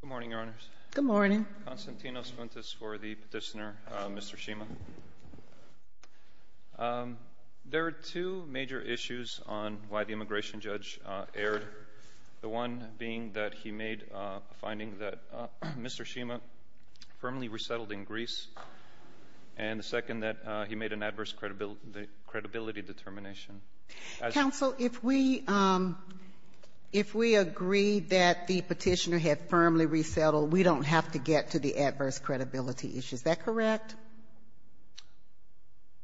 Good morning, Your Honors. Good morning. Konstantinos Funtas for the petitioner, Mr. Shima. There are two major issues on why the immigration judge erred, the one being that he made a finding that Mr. Shima firmly resettled in Greece, and the second that he made an adverse credibility determination. Counsel, if we agree that the petitioner had firmly resettled, we don't have to get to the adverse credibility issue. Is that correct?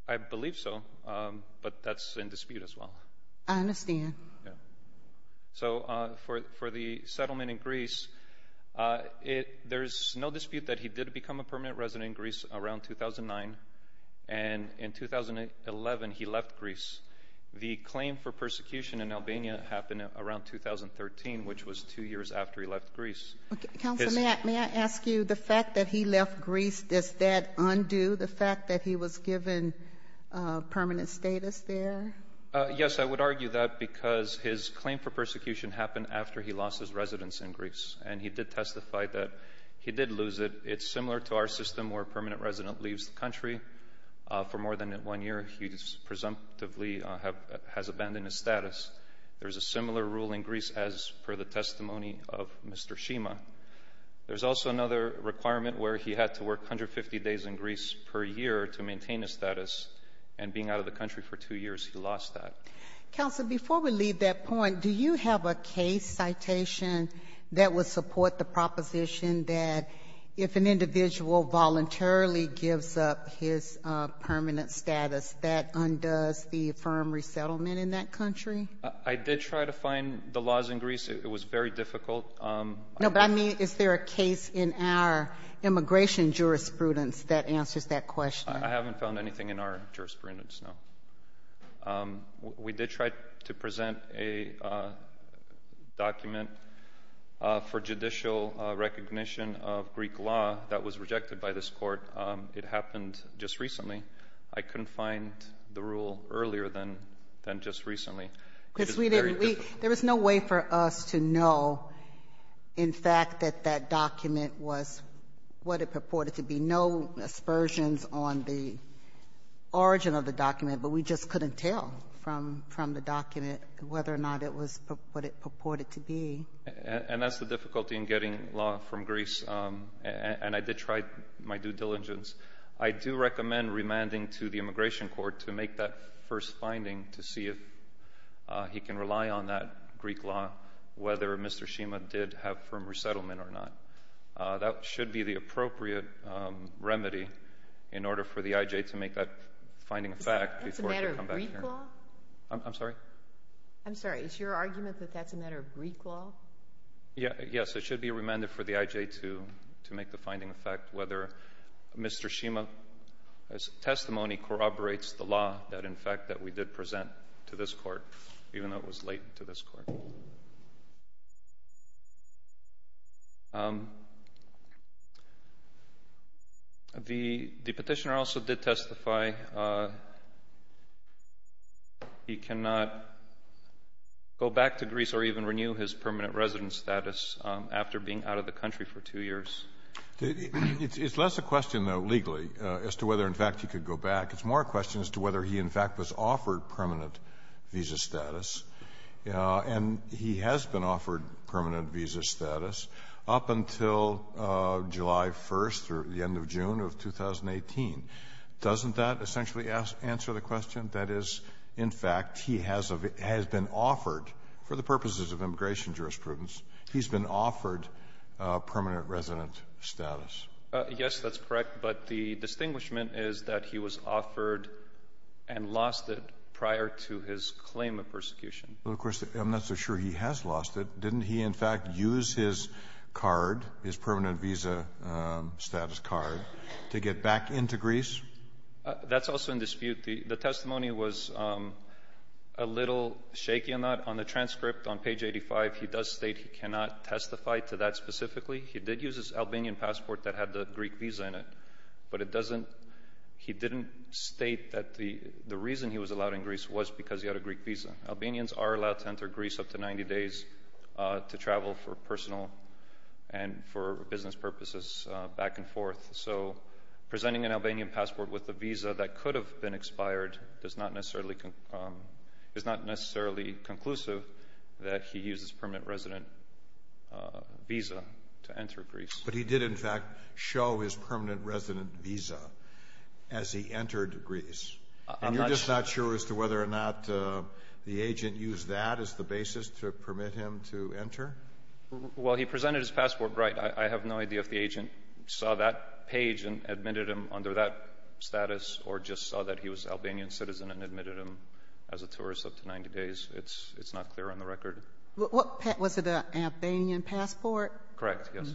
I believe so, but that's in dispute as well. I understand. So for the settlement in Greece, there's no dispute that he did become a permanent resident in Greece around 2009, and in 2011 he left Greece. The claim for persecution in Albania happened around 2013, which was two years after he left Greece. Counsel, may I ask you, the fact that he left Greece, does that undo the fact that he was given permanent status there? Yes, I would argue that because his claim for persecution happened after he lost his residence in Greece, and he did testify that he did lose it. It's similar to our system where a permanent resident leaves the country. For more than one year, he presumptively has abandoned his status. There's a similar rule in Greece as per the testimony of Mr. Shima. There's also another requirement where he had to work 150 days in Greece per year to maintain his status, and being out of the country for two years, he lost that. Counsel, before we leave that point, do you have a case citation that would support the proposition that if an individual voluntarily gives up his permanent status, that undoes the firm resettlement in that country? I did try to find the laws in Greece. It was very difficult. No, but I mean, is there a case in our immigration jurisprudence that answers that question? I haven't found anything in our jurisprudence, no. We did try to present a document for judicial recognition of Greek law that was rejected by this court. It happened just recently. I couldn't find the rule earlier than just recently. There was no way for us to know, in fact, that that document was what it purported to be. There were no aspersions on the origin of the document, but we just couldn't tell from the document whether or not it was what it purported to be. And that's the difficulty in getting law from Greece, and I did try my due diligence. I do recommend remanding to the immigration court to make that first finding to see if he can rely on that Greek law, whether Mr. Shima did have firm resettlement or not. That should be the appropriate remedy in order for the IJ to make that finding of fact. Is that a matter of Greek law? I'm sorry? I'm sorry. Is your argument that that's a matter of Greek law? Yes, it should be remanded for the IJ to make the finding of fact whether Mr. Shima's testimony corroborates the law that, in fact, that we did present to this court, even though it was late to this court. The petitioner also did testify he cannot go back to Greece or even renew his permanent residence status after being out of the country for two years. It's less a question, though, legally, as to whether, in fact, he could go back. It's more a question as to whether he, in fact, was offered permanent visa status. And he has been offered permanent visa status up until July 1st or the end of June of 2018. Doesn't that essentially answer the question? That is, in fact, he has been offered, for the purposes of immigration jurisprudence, he's been offered permanent resident status. Yes, that's correct. But the distinguishment is that he was offered and lost it prior to his claim of persecution. Well, of course, I'm not so sure he has lost it. Didn't he, in fact, use his card, his permanent visa status card, to get back into Greece? That's also in dispute. The testimony was a little shaky on that. On the transcript on page 85, he does state he cannot testify to that specifically. He did use his Albanian passport that had the Greek visa in it, but he didn't state that the reason he was allowed in Greece was because he had a Greek visa. Albanians are allowed to enter Greece up to 90 days to travel for personal and for business purposes back and forth. So presenting an Albanian passport with a visa that could have been expired is not necessarily conclusive that he used his permanent resident visa to enter Greece. But he did, in fact, show his permanent resident visa as he entered Greece. And you're just not sure as to whether or not the agent used that as the basis to permit him to enter? Well, he presented his passport right. I have no idea if the agent saw that page and admitted him under that status or just saw that he was an Albanian citizen and admitted him as a tourist up to 90 days. It's not clear on the record. Was it an Albanian passport? Correct, yes.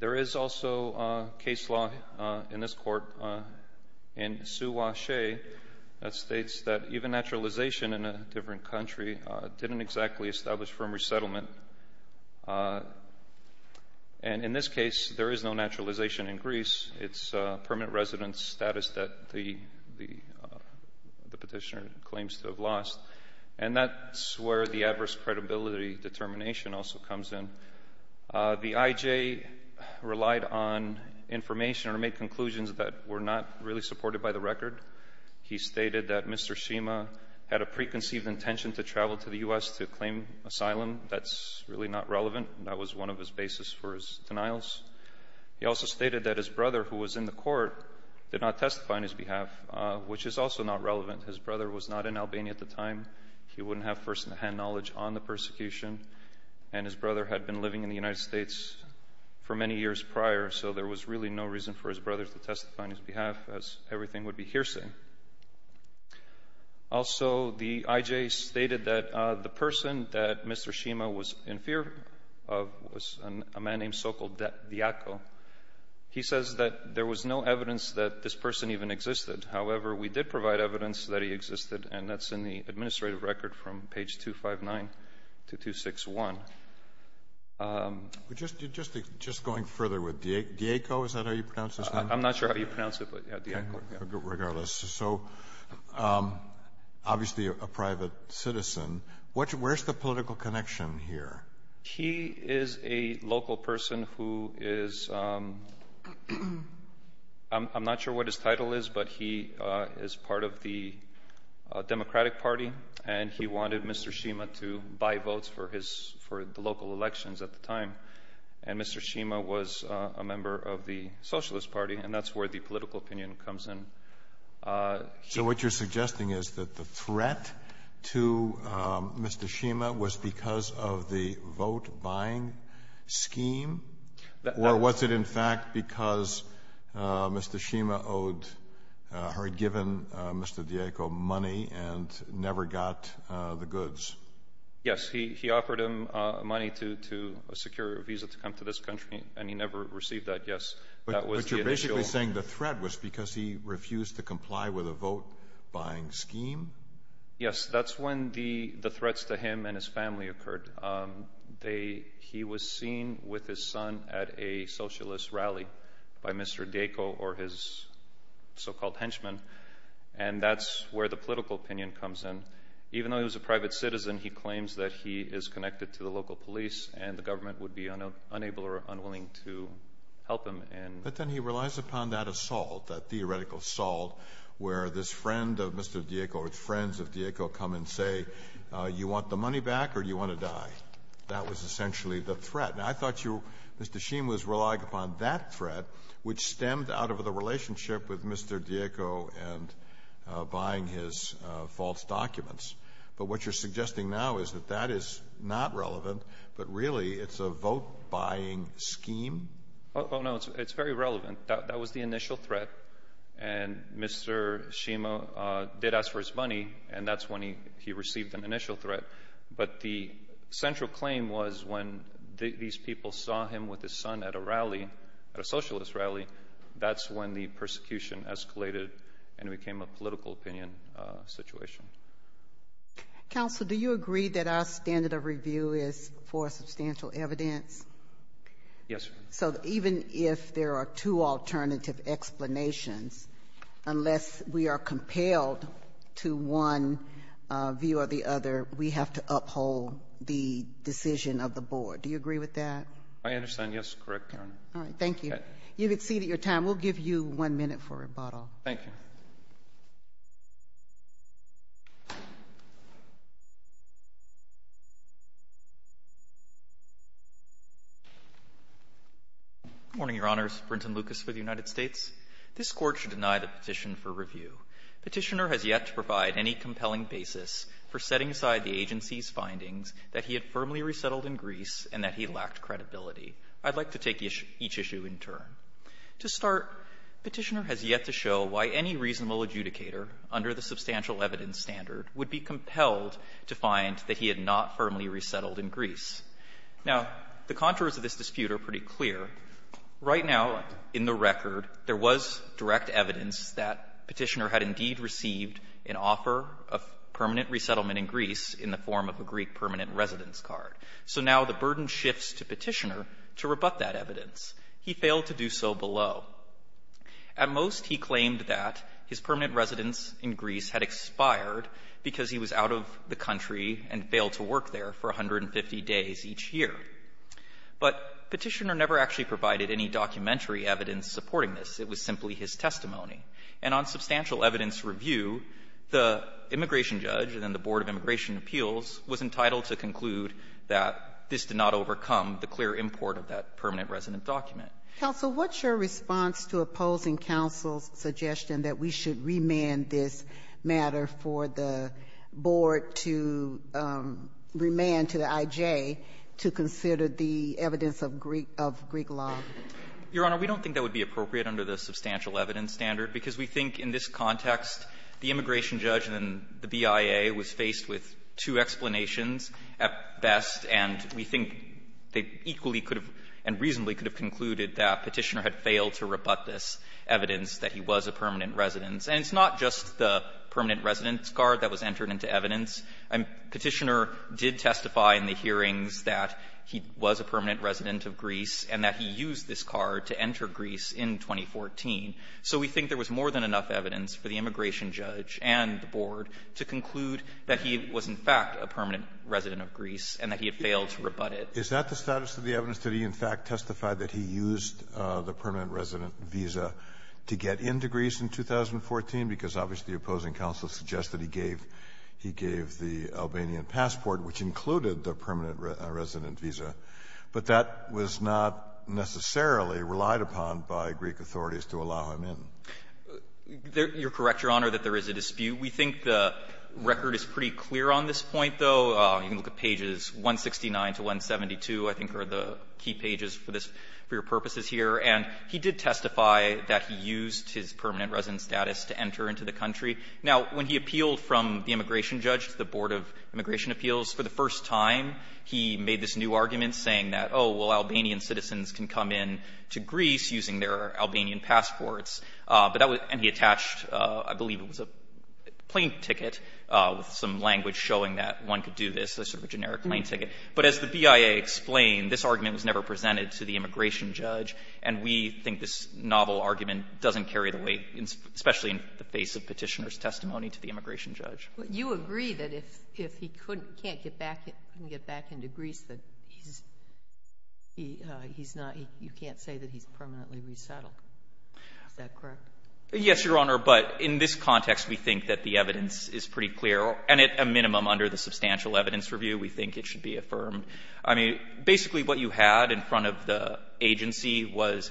There is also a case law in this court in Souache that states that even naturalization in a different country didn't exactly establish firm resettlement. And in this case, there is no naturalization in Greece. It's permanent resident status that the petitioner claims to have lost. And that's where the adverse credibility determination also comes in. The IJ relied on information or made conclusions that were not really supported by the record. He stated that Mr. Shima had a preconceived intention to travel to the U.S. to claim asylum. That's really not relevant. That was one of his basis for his denials. He also stated that his brother, who was in the court, did not testify on his behalf, which is also not relevant. His brother was not in Albania at the time. He wouldn't have first-hand knowledge on the persecution. And his brother had been living in the United States for many years prior, so there was really no reason for his brother to testify on his behalf, as everything would be hearsay. Also, the IJ stated that the person that Mr. Shima was in fear of was a man named Sokol Diako. He says that there was no evidence that this person even existed. However, we did provide evidence that he existed, and that's in the administrative record from page 259 to 261. Just going further with Diako, is that how you pronounce his name? I'm not sure how you pronounce it, but Diako. Regardless. So, obviously a private citizen. Where's the political connection here? He is a local person who is—I'm not sure what his title is, but he is part of the Democratic Party, and he wanted Mr. Shima to buy votes for the local elections at the time. And Mr. Shima was a member of the Socialist Party, and that's where the political opinion comes in. So what you're suggesting is that the threat to Mr. Shima was because of the vote-buying scheme? Or was it, in fact, because Mr. Shima had given Mr. Diako money and never got the goods? Yes, he offered him money to secure a visa to come to this country, and he never received that, yes. But you're basically saying the threat was because he refused to comply with a vote-buying scheme? Yes, that's when the threats to him and his family occurred. He was seen with his son at a socialist rally by Mr. Diako or his so-called henchmen, and that's where the political opinion comes in. Even though he was a private citizen, he claims that he is connected to the local police, and the government would be unable or unwilling to help him. But then he relies upon that assault, that theoretical assault, where this friend of Mr. Diako or his friends of Diako come and say, you want the money back or do you want to die? That was essentially the threat. Now, I thought Mr. Shima was relying upon that threat, which stemmed out of the relationship with Mr. Diako and buying his false documents. But what you're suggesting now is that that is not relevant, but really it's a vote-buying scheme? Oh, no, it's very relevant. That was the initial threat, and Mr. Shima did ask for his money, and that's when he received an initial threat. But the central claim was when these people saw him with his son at a rally, at a socialist rally, that's when the persecution escalated and it became a political opinion situation. Counsel, do you agree that our standard of review is for substantial evidence? Yes. So even if there are two alternative explanations, unless we are compelled to one view or the other, we have to uphold the decision of the board. Do you agree with that? I understand. Yes, correct, Your Honor. All right, thank you. You've exceeded your time. We'll give you one minute for rebuttal. Thank you. Morning, Your Honors. Brenton Lucas for the United States. This Court should deny the petition for review. Petitioner has yet to provide any compelling basis for setting aside the agency's findings that he had firmly resettled in Greece and that he lacked credibility. I'd like to take each issue in turn. To start, Petitioner has yet to show why any reasonable adjudicator under the substantial evidence standard would be compelled to find that he had not firmly resettled in Greece. Now, the contours of this dispute are pretty clear. Right now, in the record, there was direct evidence that Petitioner had indeed received an offer of permanent resettlement in Greece in the form of a Greek permanent residence card. So now the burden shifts to Petitioner to rebut that evidence. He failed to do so below. At most, he claimed that his permanent residence in Greece had expired because he was out of the country and failed to work there for 150 days each year. But Petitioner never actually provided any documentary evidence supporting this. It was simply his testimony. And on substantial evidence review, the immigration judge and then the Board of Immigration Appeals was entitled to conclude that this did not overcome the clear import of that permanent residence document. Counsel, what's your response to opposing counsel's suggestion that we should not amend this matter for the board to remand to the I.J. to consider the evidence of Greek law? Your Honor, we don't think that would be appropriate under the substantial evidence standard, because we think in this context, the immigration judge and the BIA was faced with two explanations at best, and we think they equally could have and reasonably could have concluded that Petitioner had failed to rebut this evidence that he was a permanent residence. And it's not just the permanent residence card that was entered into evidence. Petitioner did testify in the hearings that he was a permanent resident of Greece and that he used this card to enter Greece in 2014. So we think there was more than enough evidence for the immigration judge and the board to conclude that he was, in fact, a permanent resident of Greece and that he had failed to rebut it. Is that the status of the evidence that he, in fact, testified that he used the permanent resident visa to get into Greece in 2014, because obviously the opposing counsel suggests that he gave the Albanian passport, which included the permanent resident visa, but that was not necessarily relied upon by Greek authorities to allow him in? You're correct, Your Honor, that there is a dispute. We think the record is pretty clear on this point, though. You can look at pages 169 to 172, I think, are the key pages for this, for your purposes here. And he did testify that he used his permanent resident status to enter into the country. Now, when he appealed from the immigration judge to the Board of Immigration Appeals, for the first time he made this new argument saying that, oh, well, Albanian citizens can come in to Greece using their Albanian passports. But that was — and he attached, I believe it was a plane ticket with some language showing that one could do this, a sort of generic plane ticket. But as the BIA explained, this argument was never presented to the immigration judge, and we think this novel argument doesn't carry the weight, especially in the face of Petitioner's testimony to the immigration judge. But you agree that if he couldn't — can't get back — couldn't get back into Greece, that he's — he's not — you can't say that he's permanently resettled. Is that correct? Yes, Your Honor. But in this context, we think that the evidence is pretty clear, and at a minimum under the substantial evidence review, we think it should be affirmed. I mean, basically what you had in front of the agency was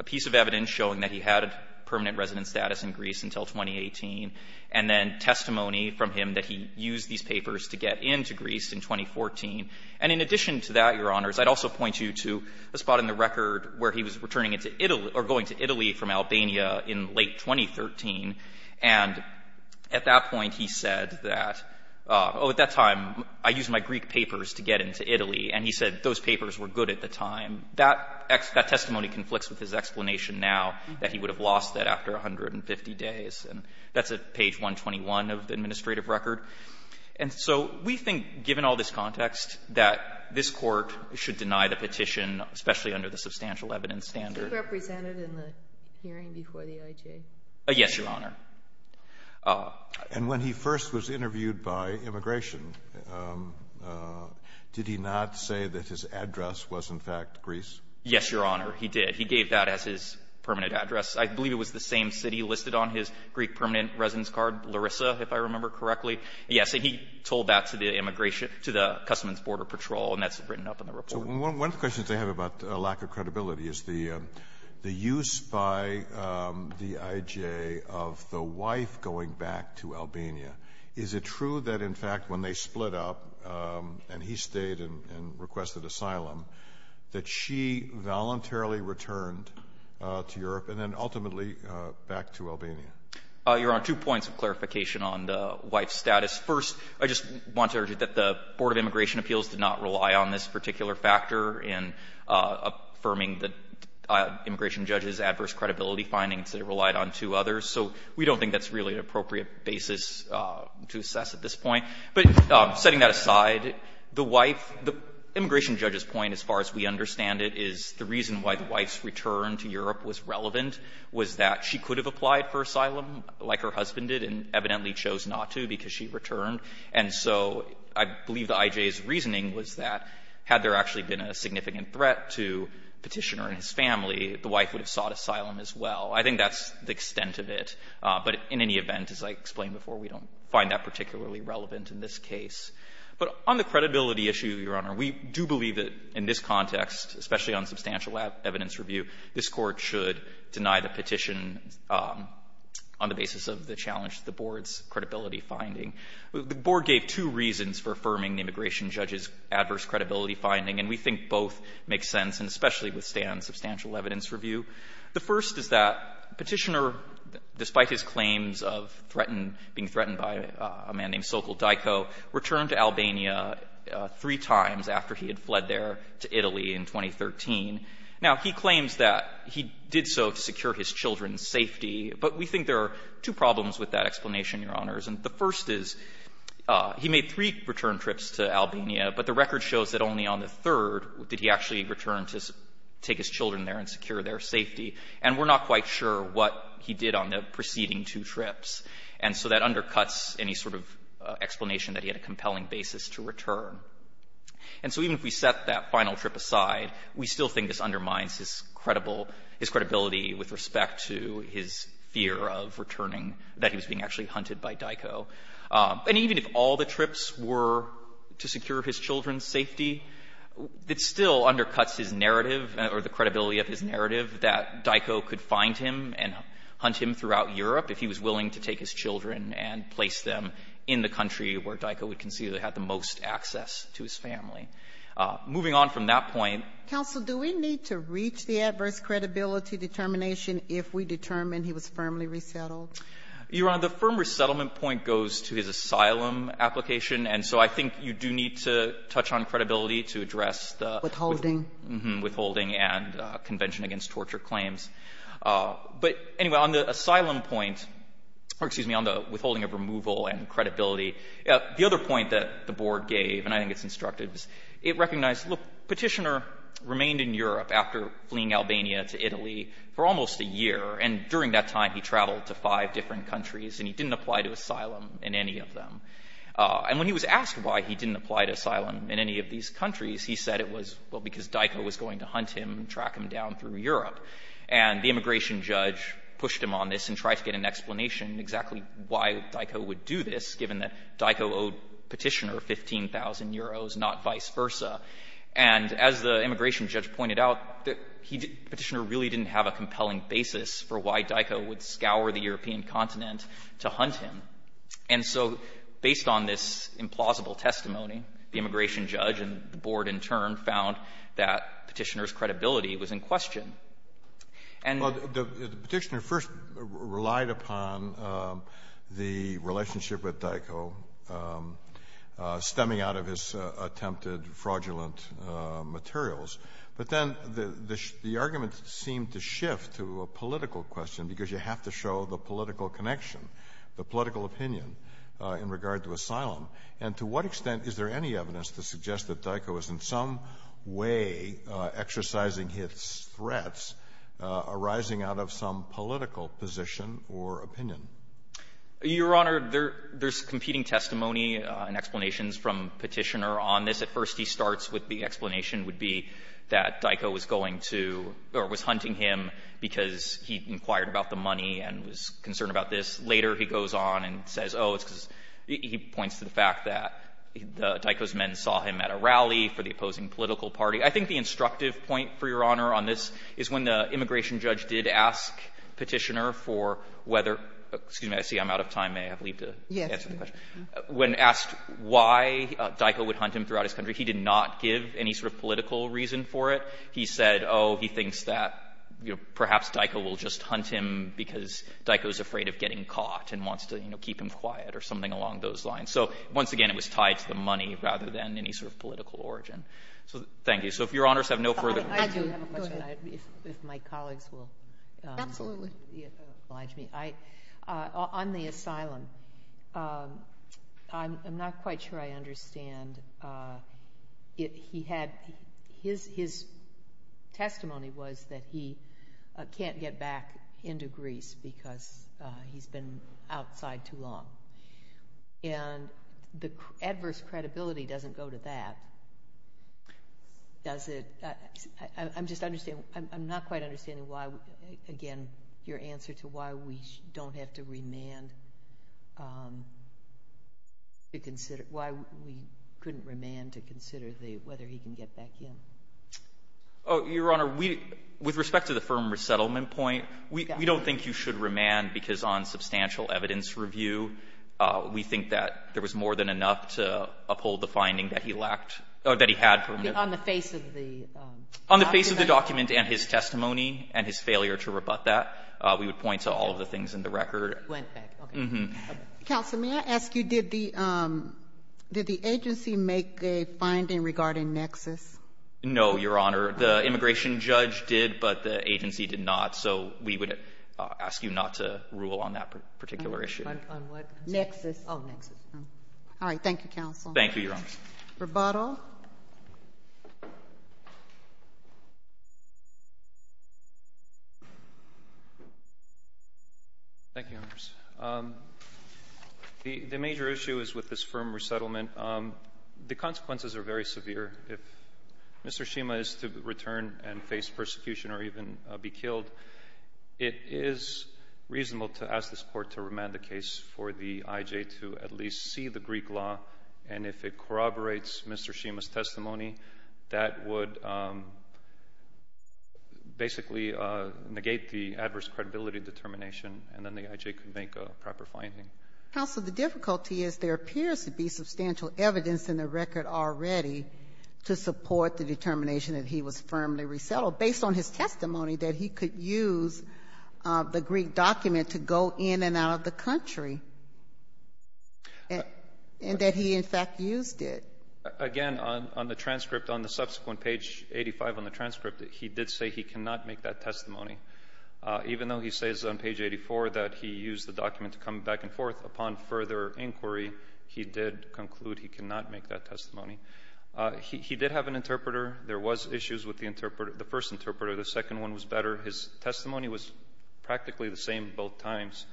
a piece of evidence showing that he had permanent resident status in Greece until 2018, and then testimony from him that he used these papers to get into Greece in 2014. And in addition to that, Your Honors, I'd also point you to a spot in the record where he was returning into Italy — or going to Italy from Albania in late 2013. And at that point, he said that, oh, at that time, I used my Greek papers to get into Italy, and he said those papers were good at the time. That testimony conflicts with his explanation now that he would have lost that after 150 days, and that's at page 121 of the administrative record. And so we think, given all this context, that this Court should deny the petition, especially under the substantial evidence standard. Was he represented in the hearing before the IJ? Yes, Your Honor. And when he first was interviewed by Immigration, did he not say that his address was, in fact, Greece? Yes, Your Honor, he did. He gave that as his permanent address. I believe it was the same city listed on his Greek permanent residence card, Larissa, if I remember correctly. Yes. And he told that to the Immigration — to the Customs and Border Patrol, and that's written up in the report. So one of the questions I have about lack of credibility is the use by the IJ of the wife going back to Albania. Is it true that, in fact, when they split up and he stayed and requested asylum, that she voluntarily returned to Europe and then ultimately back to Albania? Your Honor, two points of clarification on the wife's status. First, I just want to urge you that the Board of Immigration Appeals did not rely on this particular factor in affirming the immigration judge's adverse credibility findings. It relied on two others. So we don't think that's really an appropriate basis to assess at this point. But setting that aside, the wife — the immigration judge's point, as far as we understand it, is the reason why the wife's return to Europe was relevant was that she could have applied for asylum, like her husband did, and evidently chose not to because she returned. And so I believe the IJ's reasoning was that, had there actually been a significant threat to the Petitioner and his family, the wife would have sought asylum as well. I think that's the extent of it. But in any event, as I explained before, we don't find that particularly relevant in this case. But on the credibility issue, Your Honor, we do believe that in this context, especially on substantial evidence review, this Court should deny the petition on the basis of the challenge to the Board's credibility finding. The Board gave two reasons for affirming the immigration judge's adverse credibility finding, and we think both make sense and especially withstand substantial evidence review. The first is that Petitioner, despite his claims of threatened — being threatened by a man named Sokol Daiko, returned to Albania three times after he had fled there to Italy in 2013. Now, he claims that he did so to secure his children's safety, but we think there are two problems with that explanation, Your Honors. And the first is he made three return trips to Albania, but the record shows that only on the third did he actually return to take his children there and secure their safety, and we're not quite sure what he did on the preceding two trips. And so that undercuts any sort of explanation that he had a compelling basis to return. And so even if we set that final trip aside, we still think this undermines his credible — his credibility with respect to his fear of returning — that he was being actually hunted by Daiko. And even if all the trips were to secure his children's safety, it still undercuts his narrative or the credibility of his narrative that Daiko could find him and hunt him throughout Europe if he was willing to take his children and place them in the country where Daiko would concede they had the most access to his family. Moving on from that point — Ginsburg-McCarthy, counsel, do we need to reach the adverse credibility determination if we determine he was firmly resettled? You Honor, the firm resettlement point goes to his asylum application. And so I think you do need to touch on credibility to address the — Withholding. Withholding and convention against torture claims. But anyway, on the asylum point — or excuse me, on the withholding of removal and credibility, the other point that the board gave, and I think it's instructive, is it recognized, look, Petitioner remained in Europe after fleeing Albania to Italy for almost a year, and during that time, he traveled to five different countries and he didn't apply to asylum in any of them. And when he was asked why he didn't apply to asylum in any of these countries, he said it was, well, because Daiko was going to hunt him and track him down through Europe. And the immigration judge pushed him on this and tried to get an explanation exactly why Daiko would do this, given that Daiko owed Petitioner 15,000 euros, not vice versa. And as the immigration judge pointed out, Petitioner really didn't have a compelling basis for why Daiko would scour the European continent to hunt him. And so based on this implausible testimony, the immigration judge and the board in turn found that Petitioner's credibility was in question. And — Well, the Petitioner first relied upon the relationship with Daiko stemming out of his attempted fraudulent materials. But then the argument seemed to shift to a political question, because you have to show the political connection, the political opinion in regard to asylum. And to what extent is there any evidence to suggest that Daiko is in some way exercising his threats arising out of some political position or opinion? Your Honor, there's competing testimony and explanations from Petitioner on this. At first, he starts with the explanation would be that Daiko was going to — or was hunting him because he inquired about the money and was concerned about this. Later, he goes on and says, oh, it's because — he points to the fact that Daiko's men saw him at a rally for the opposing political party. I think the instructive point, for Your Honor, on this is when the immigration judge did ask Petitioner for whether — excuse me, I see I'm out of time, may I have leave to answer the question — when asked why Daiko would hunt him throughout his country, he did not give any sort of political reason for it. He said, oh, he thinks that, you know, perhaps Daiko will just hunt him because Daiko's afraid of getting caught and wants to, you know, keep him quiet or something along those lines. So once again, it was tied to the money rather than any sort of political origin. So thank you. So if Your Honors have no further — I do have a question. Go ahead. If my colleagues will — Absolutely. — oblige me. On the asylum, I'm not quite sure I understand. He had — his testimony was that he can't get back into Greece because he's been outside too long. And the adverse credibility doesn't go to that, does it? I'm just — I'm not quite understanding why, again, your answer to why we don't have to remand to consider — why we couldn't remand to consider whether he can get back in. Oh, Your Honor, we — with respect to the firm resettlement point, we don't think you should remand because on substantial evidence review, we think that there was more than enough to uphold the finding that he lacked — or that he had from the — On the face of the document? On the face of the document and his testimony and his failure to rebut that. We would point to all of the things in the record. Went back. Okay. Counsel, may I ask you, did the agency make a finding regarding Nexus? No, Your Honor. The immigration judge did, but the agency did not. So we would ask you not to rule on that particular issue. On what? Nexus. Oh, Nexus. All right. Thank you, Counsel. Thank you, Your Honor. Rebuttal. Thank you, Your Honor. The major issue is with this firm resettlement. The consequences are very severe. If Mr. Shima is to return and face persecution or even be killed, it is reasonable to ask this Court to remand the case for the I.J. to at least see the Greek law. And if it corroborates Mr. Shima's testimony, that would basically negate the adverse credibility determination, and then the I.J. could make a proper finding. Counsel, the difficulty is there appears to be substantial evidence in the record already to support the determination that he was firmly resettled, based on his testimony that he could use the Greek document to go in and out of the country, and that he, in fact, used it. Again, on the transcript, on the subsequent page 85 on the transcript, he did say he cannot make that testimony. Even though he says on page 84 that he used the document to come back and forth upon further inquiry, he did conclude he cannot make that testimony. He did have an interpreter. There was issues with the first interpreter. The second one was better. His testimony was practically the same both times.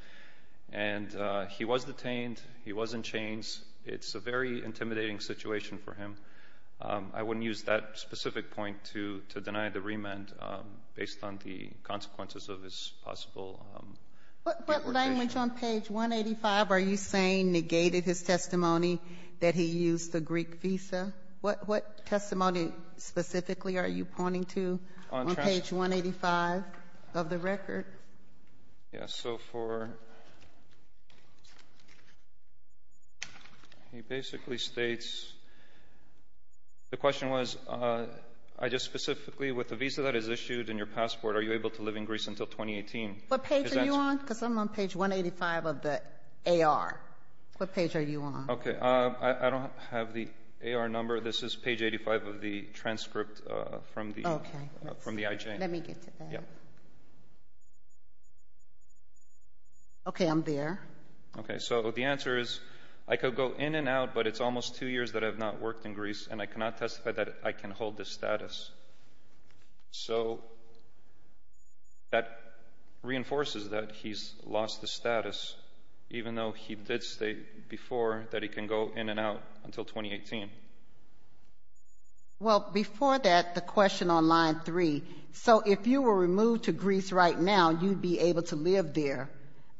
And he was detained. He was in chains. It's a very intimidating situation for him. I wouldn't use that specific point to deny the remand based on the consequences of his possible retribution. What language on page 185 are you saying negated his testimony that he used the Greek visa? What testimony specifically are you pointing to on page 185 of the record? Yes, so for he basically states the question was, I just specifically with the visa that is issued and your passport, are you able to live in Greece until 2018? What page are you on? Because I'm on page 185 of the AR. What page are you on? Okay, I don't have the AR number. This is page 85 of the transcript from the IJ. Let me get to that. Okay, I'm there. Okay, so the answer is, I could go in and out, but it's almost two years that I've not worked in Greece, and I cannot testify that I can hold this status. So that reinforces that he's lost the status, even though he did state before that he can go in and out until 2018. Well, before that, the question on line three, so if you were removed to Greece right now, you'd be able to live there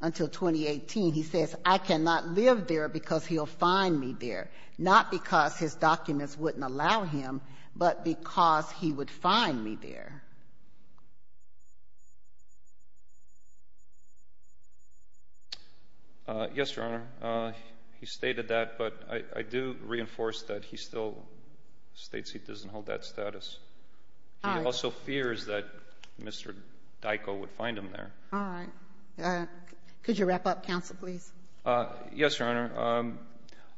until 2018. He says, I cannot live there because he'll find me there, not because his father said he would find me there. Yes, Your Honor, he stated that, but I do reinforce that he still states he doesn't hold that status. He also fears that Mr. Dyko would find him there. All right. Could you wrap up, counsel, please? Yes, Your Honor.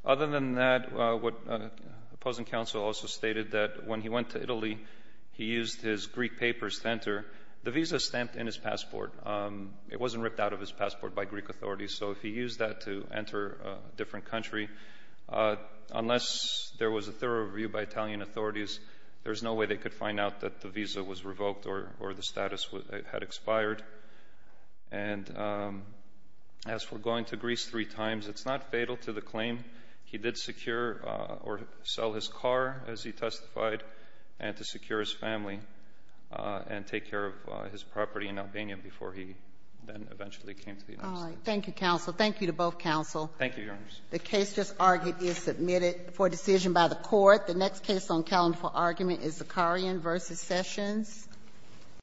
Other than that, the opposing counsel also stated that when he went to Italy, he used his Greek papers to enter. The visa stamped in his passport. It wasn't ripped out of his passport by Greek authorities, so if he used that to enter a different country, unless there was a thorough review by Italian authorities, there's no way they could find out that the visa was revoked or the status had expired. And as for going to Greece three times, it's not fatal to the claim. He did secure or sell his car, as he testified, and to secure his family and take care of his property in Albania before he then eventually came to the United States. All right. Thank you, counsel. Thank you to both counsel. Thank you, Your Honor. The case just argued is submitted for decision by the court. The next case on calendar for argument is Zakarian v. Sessions.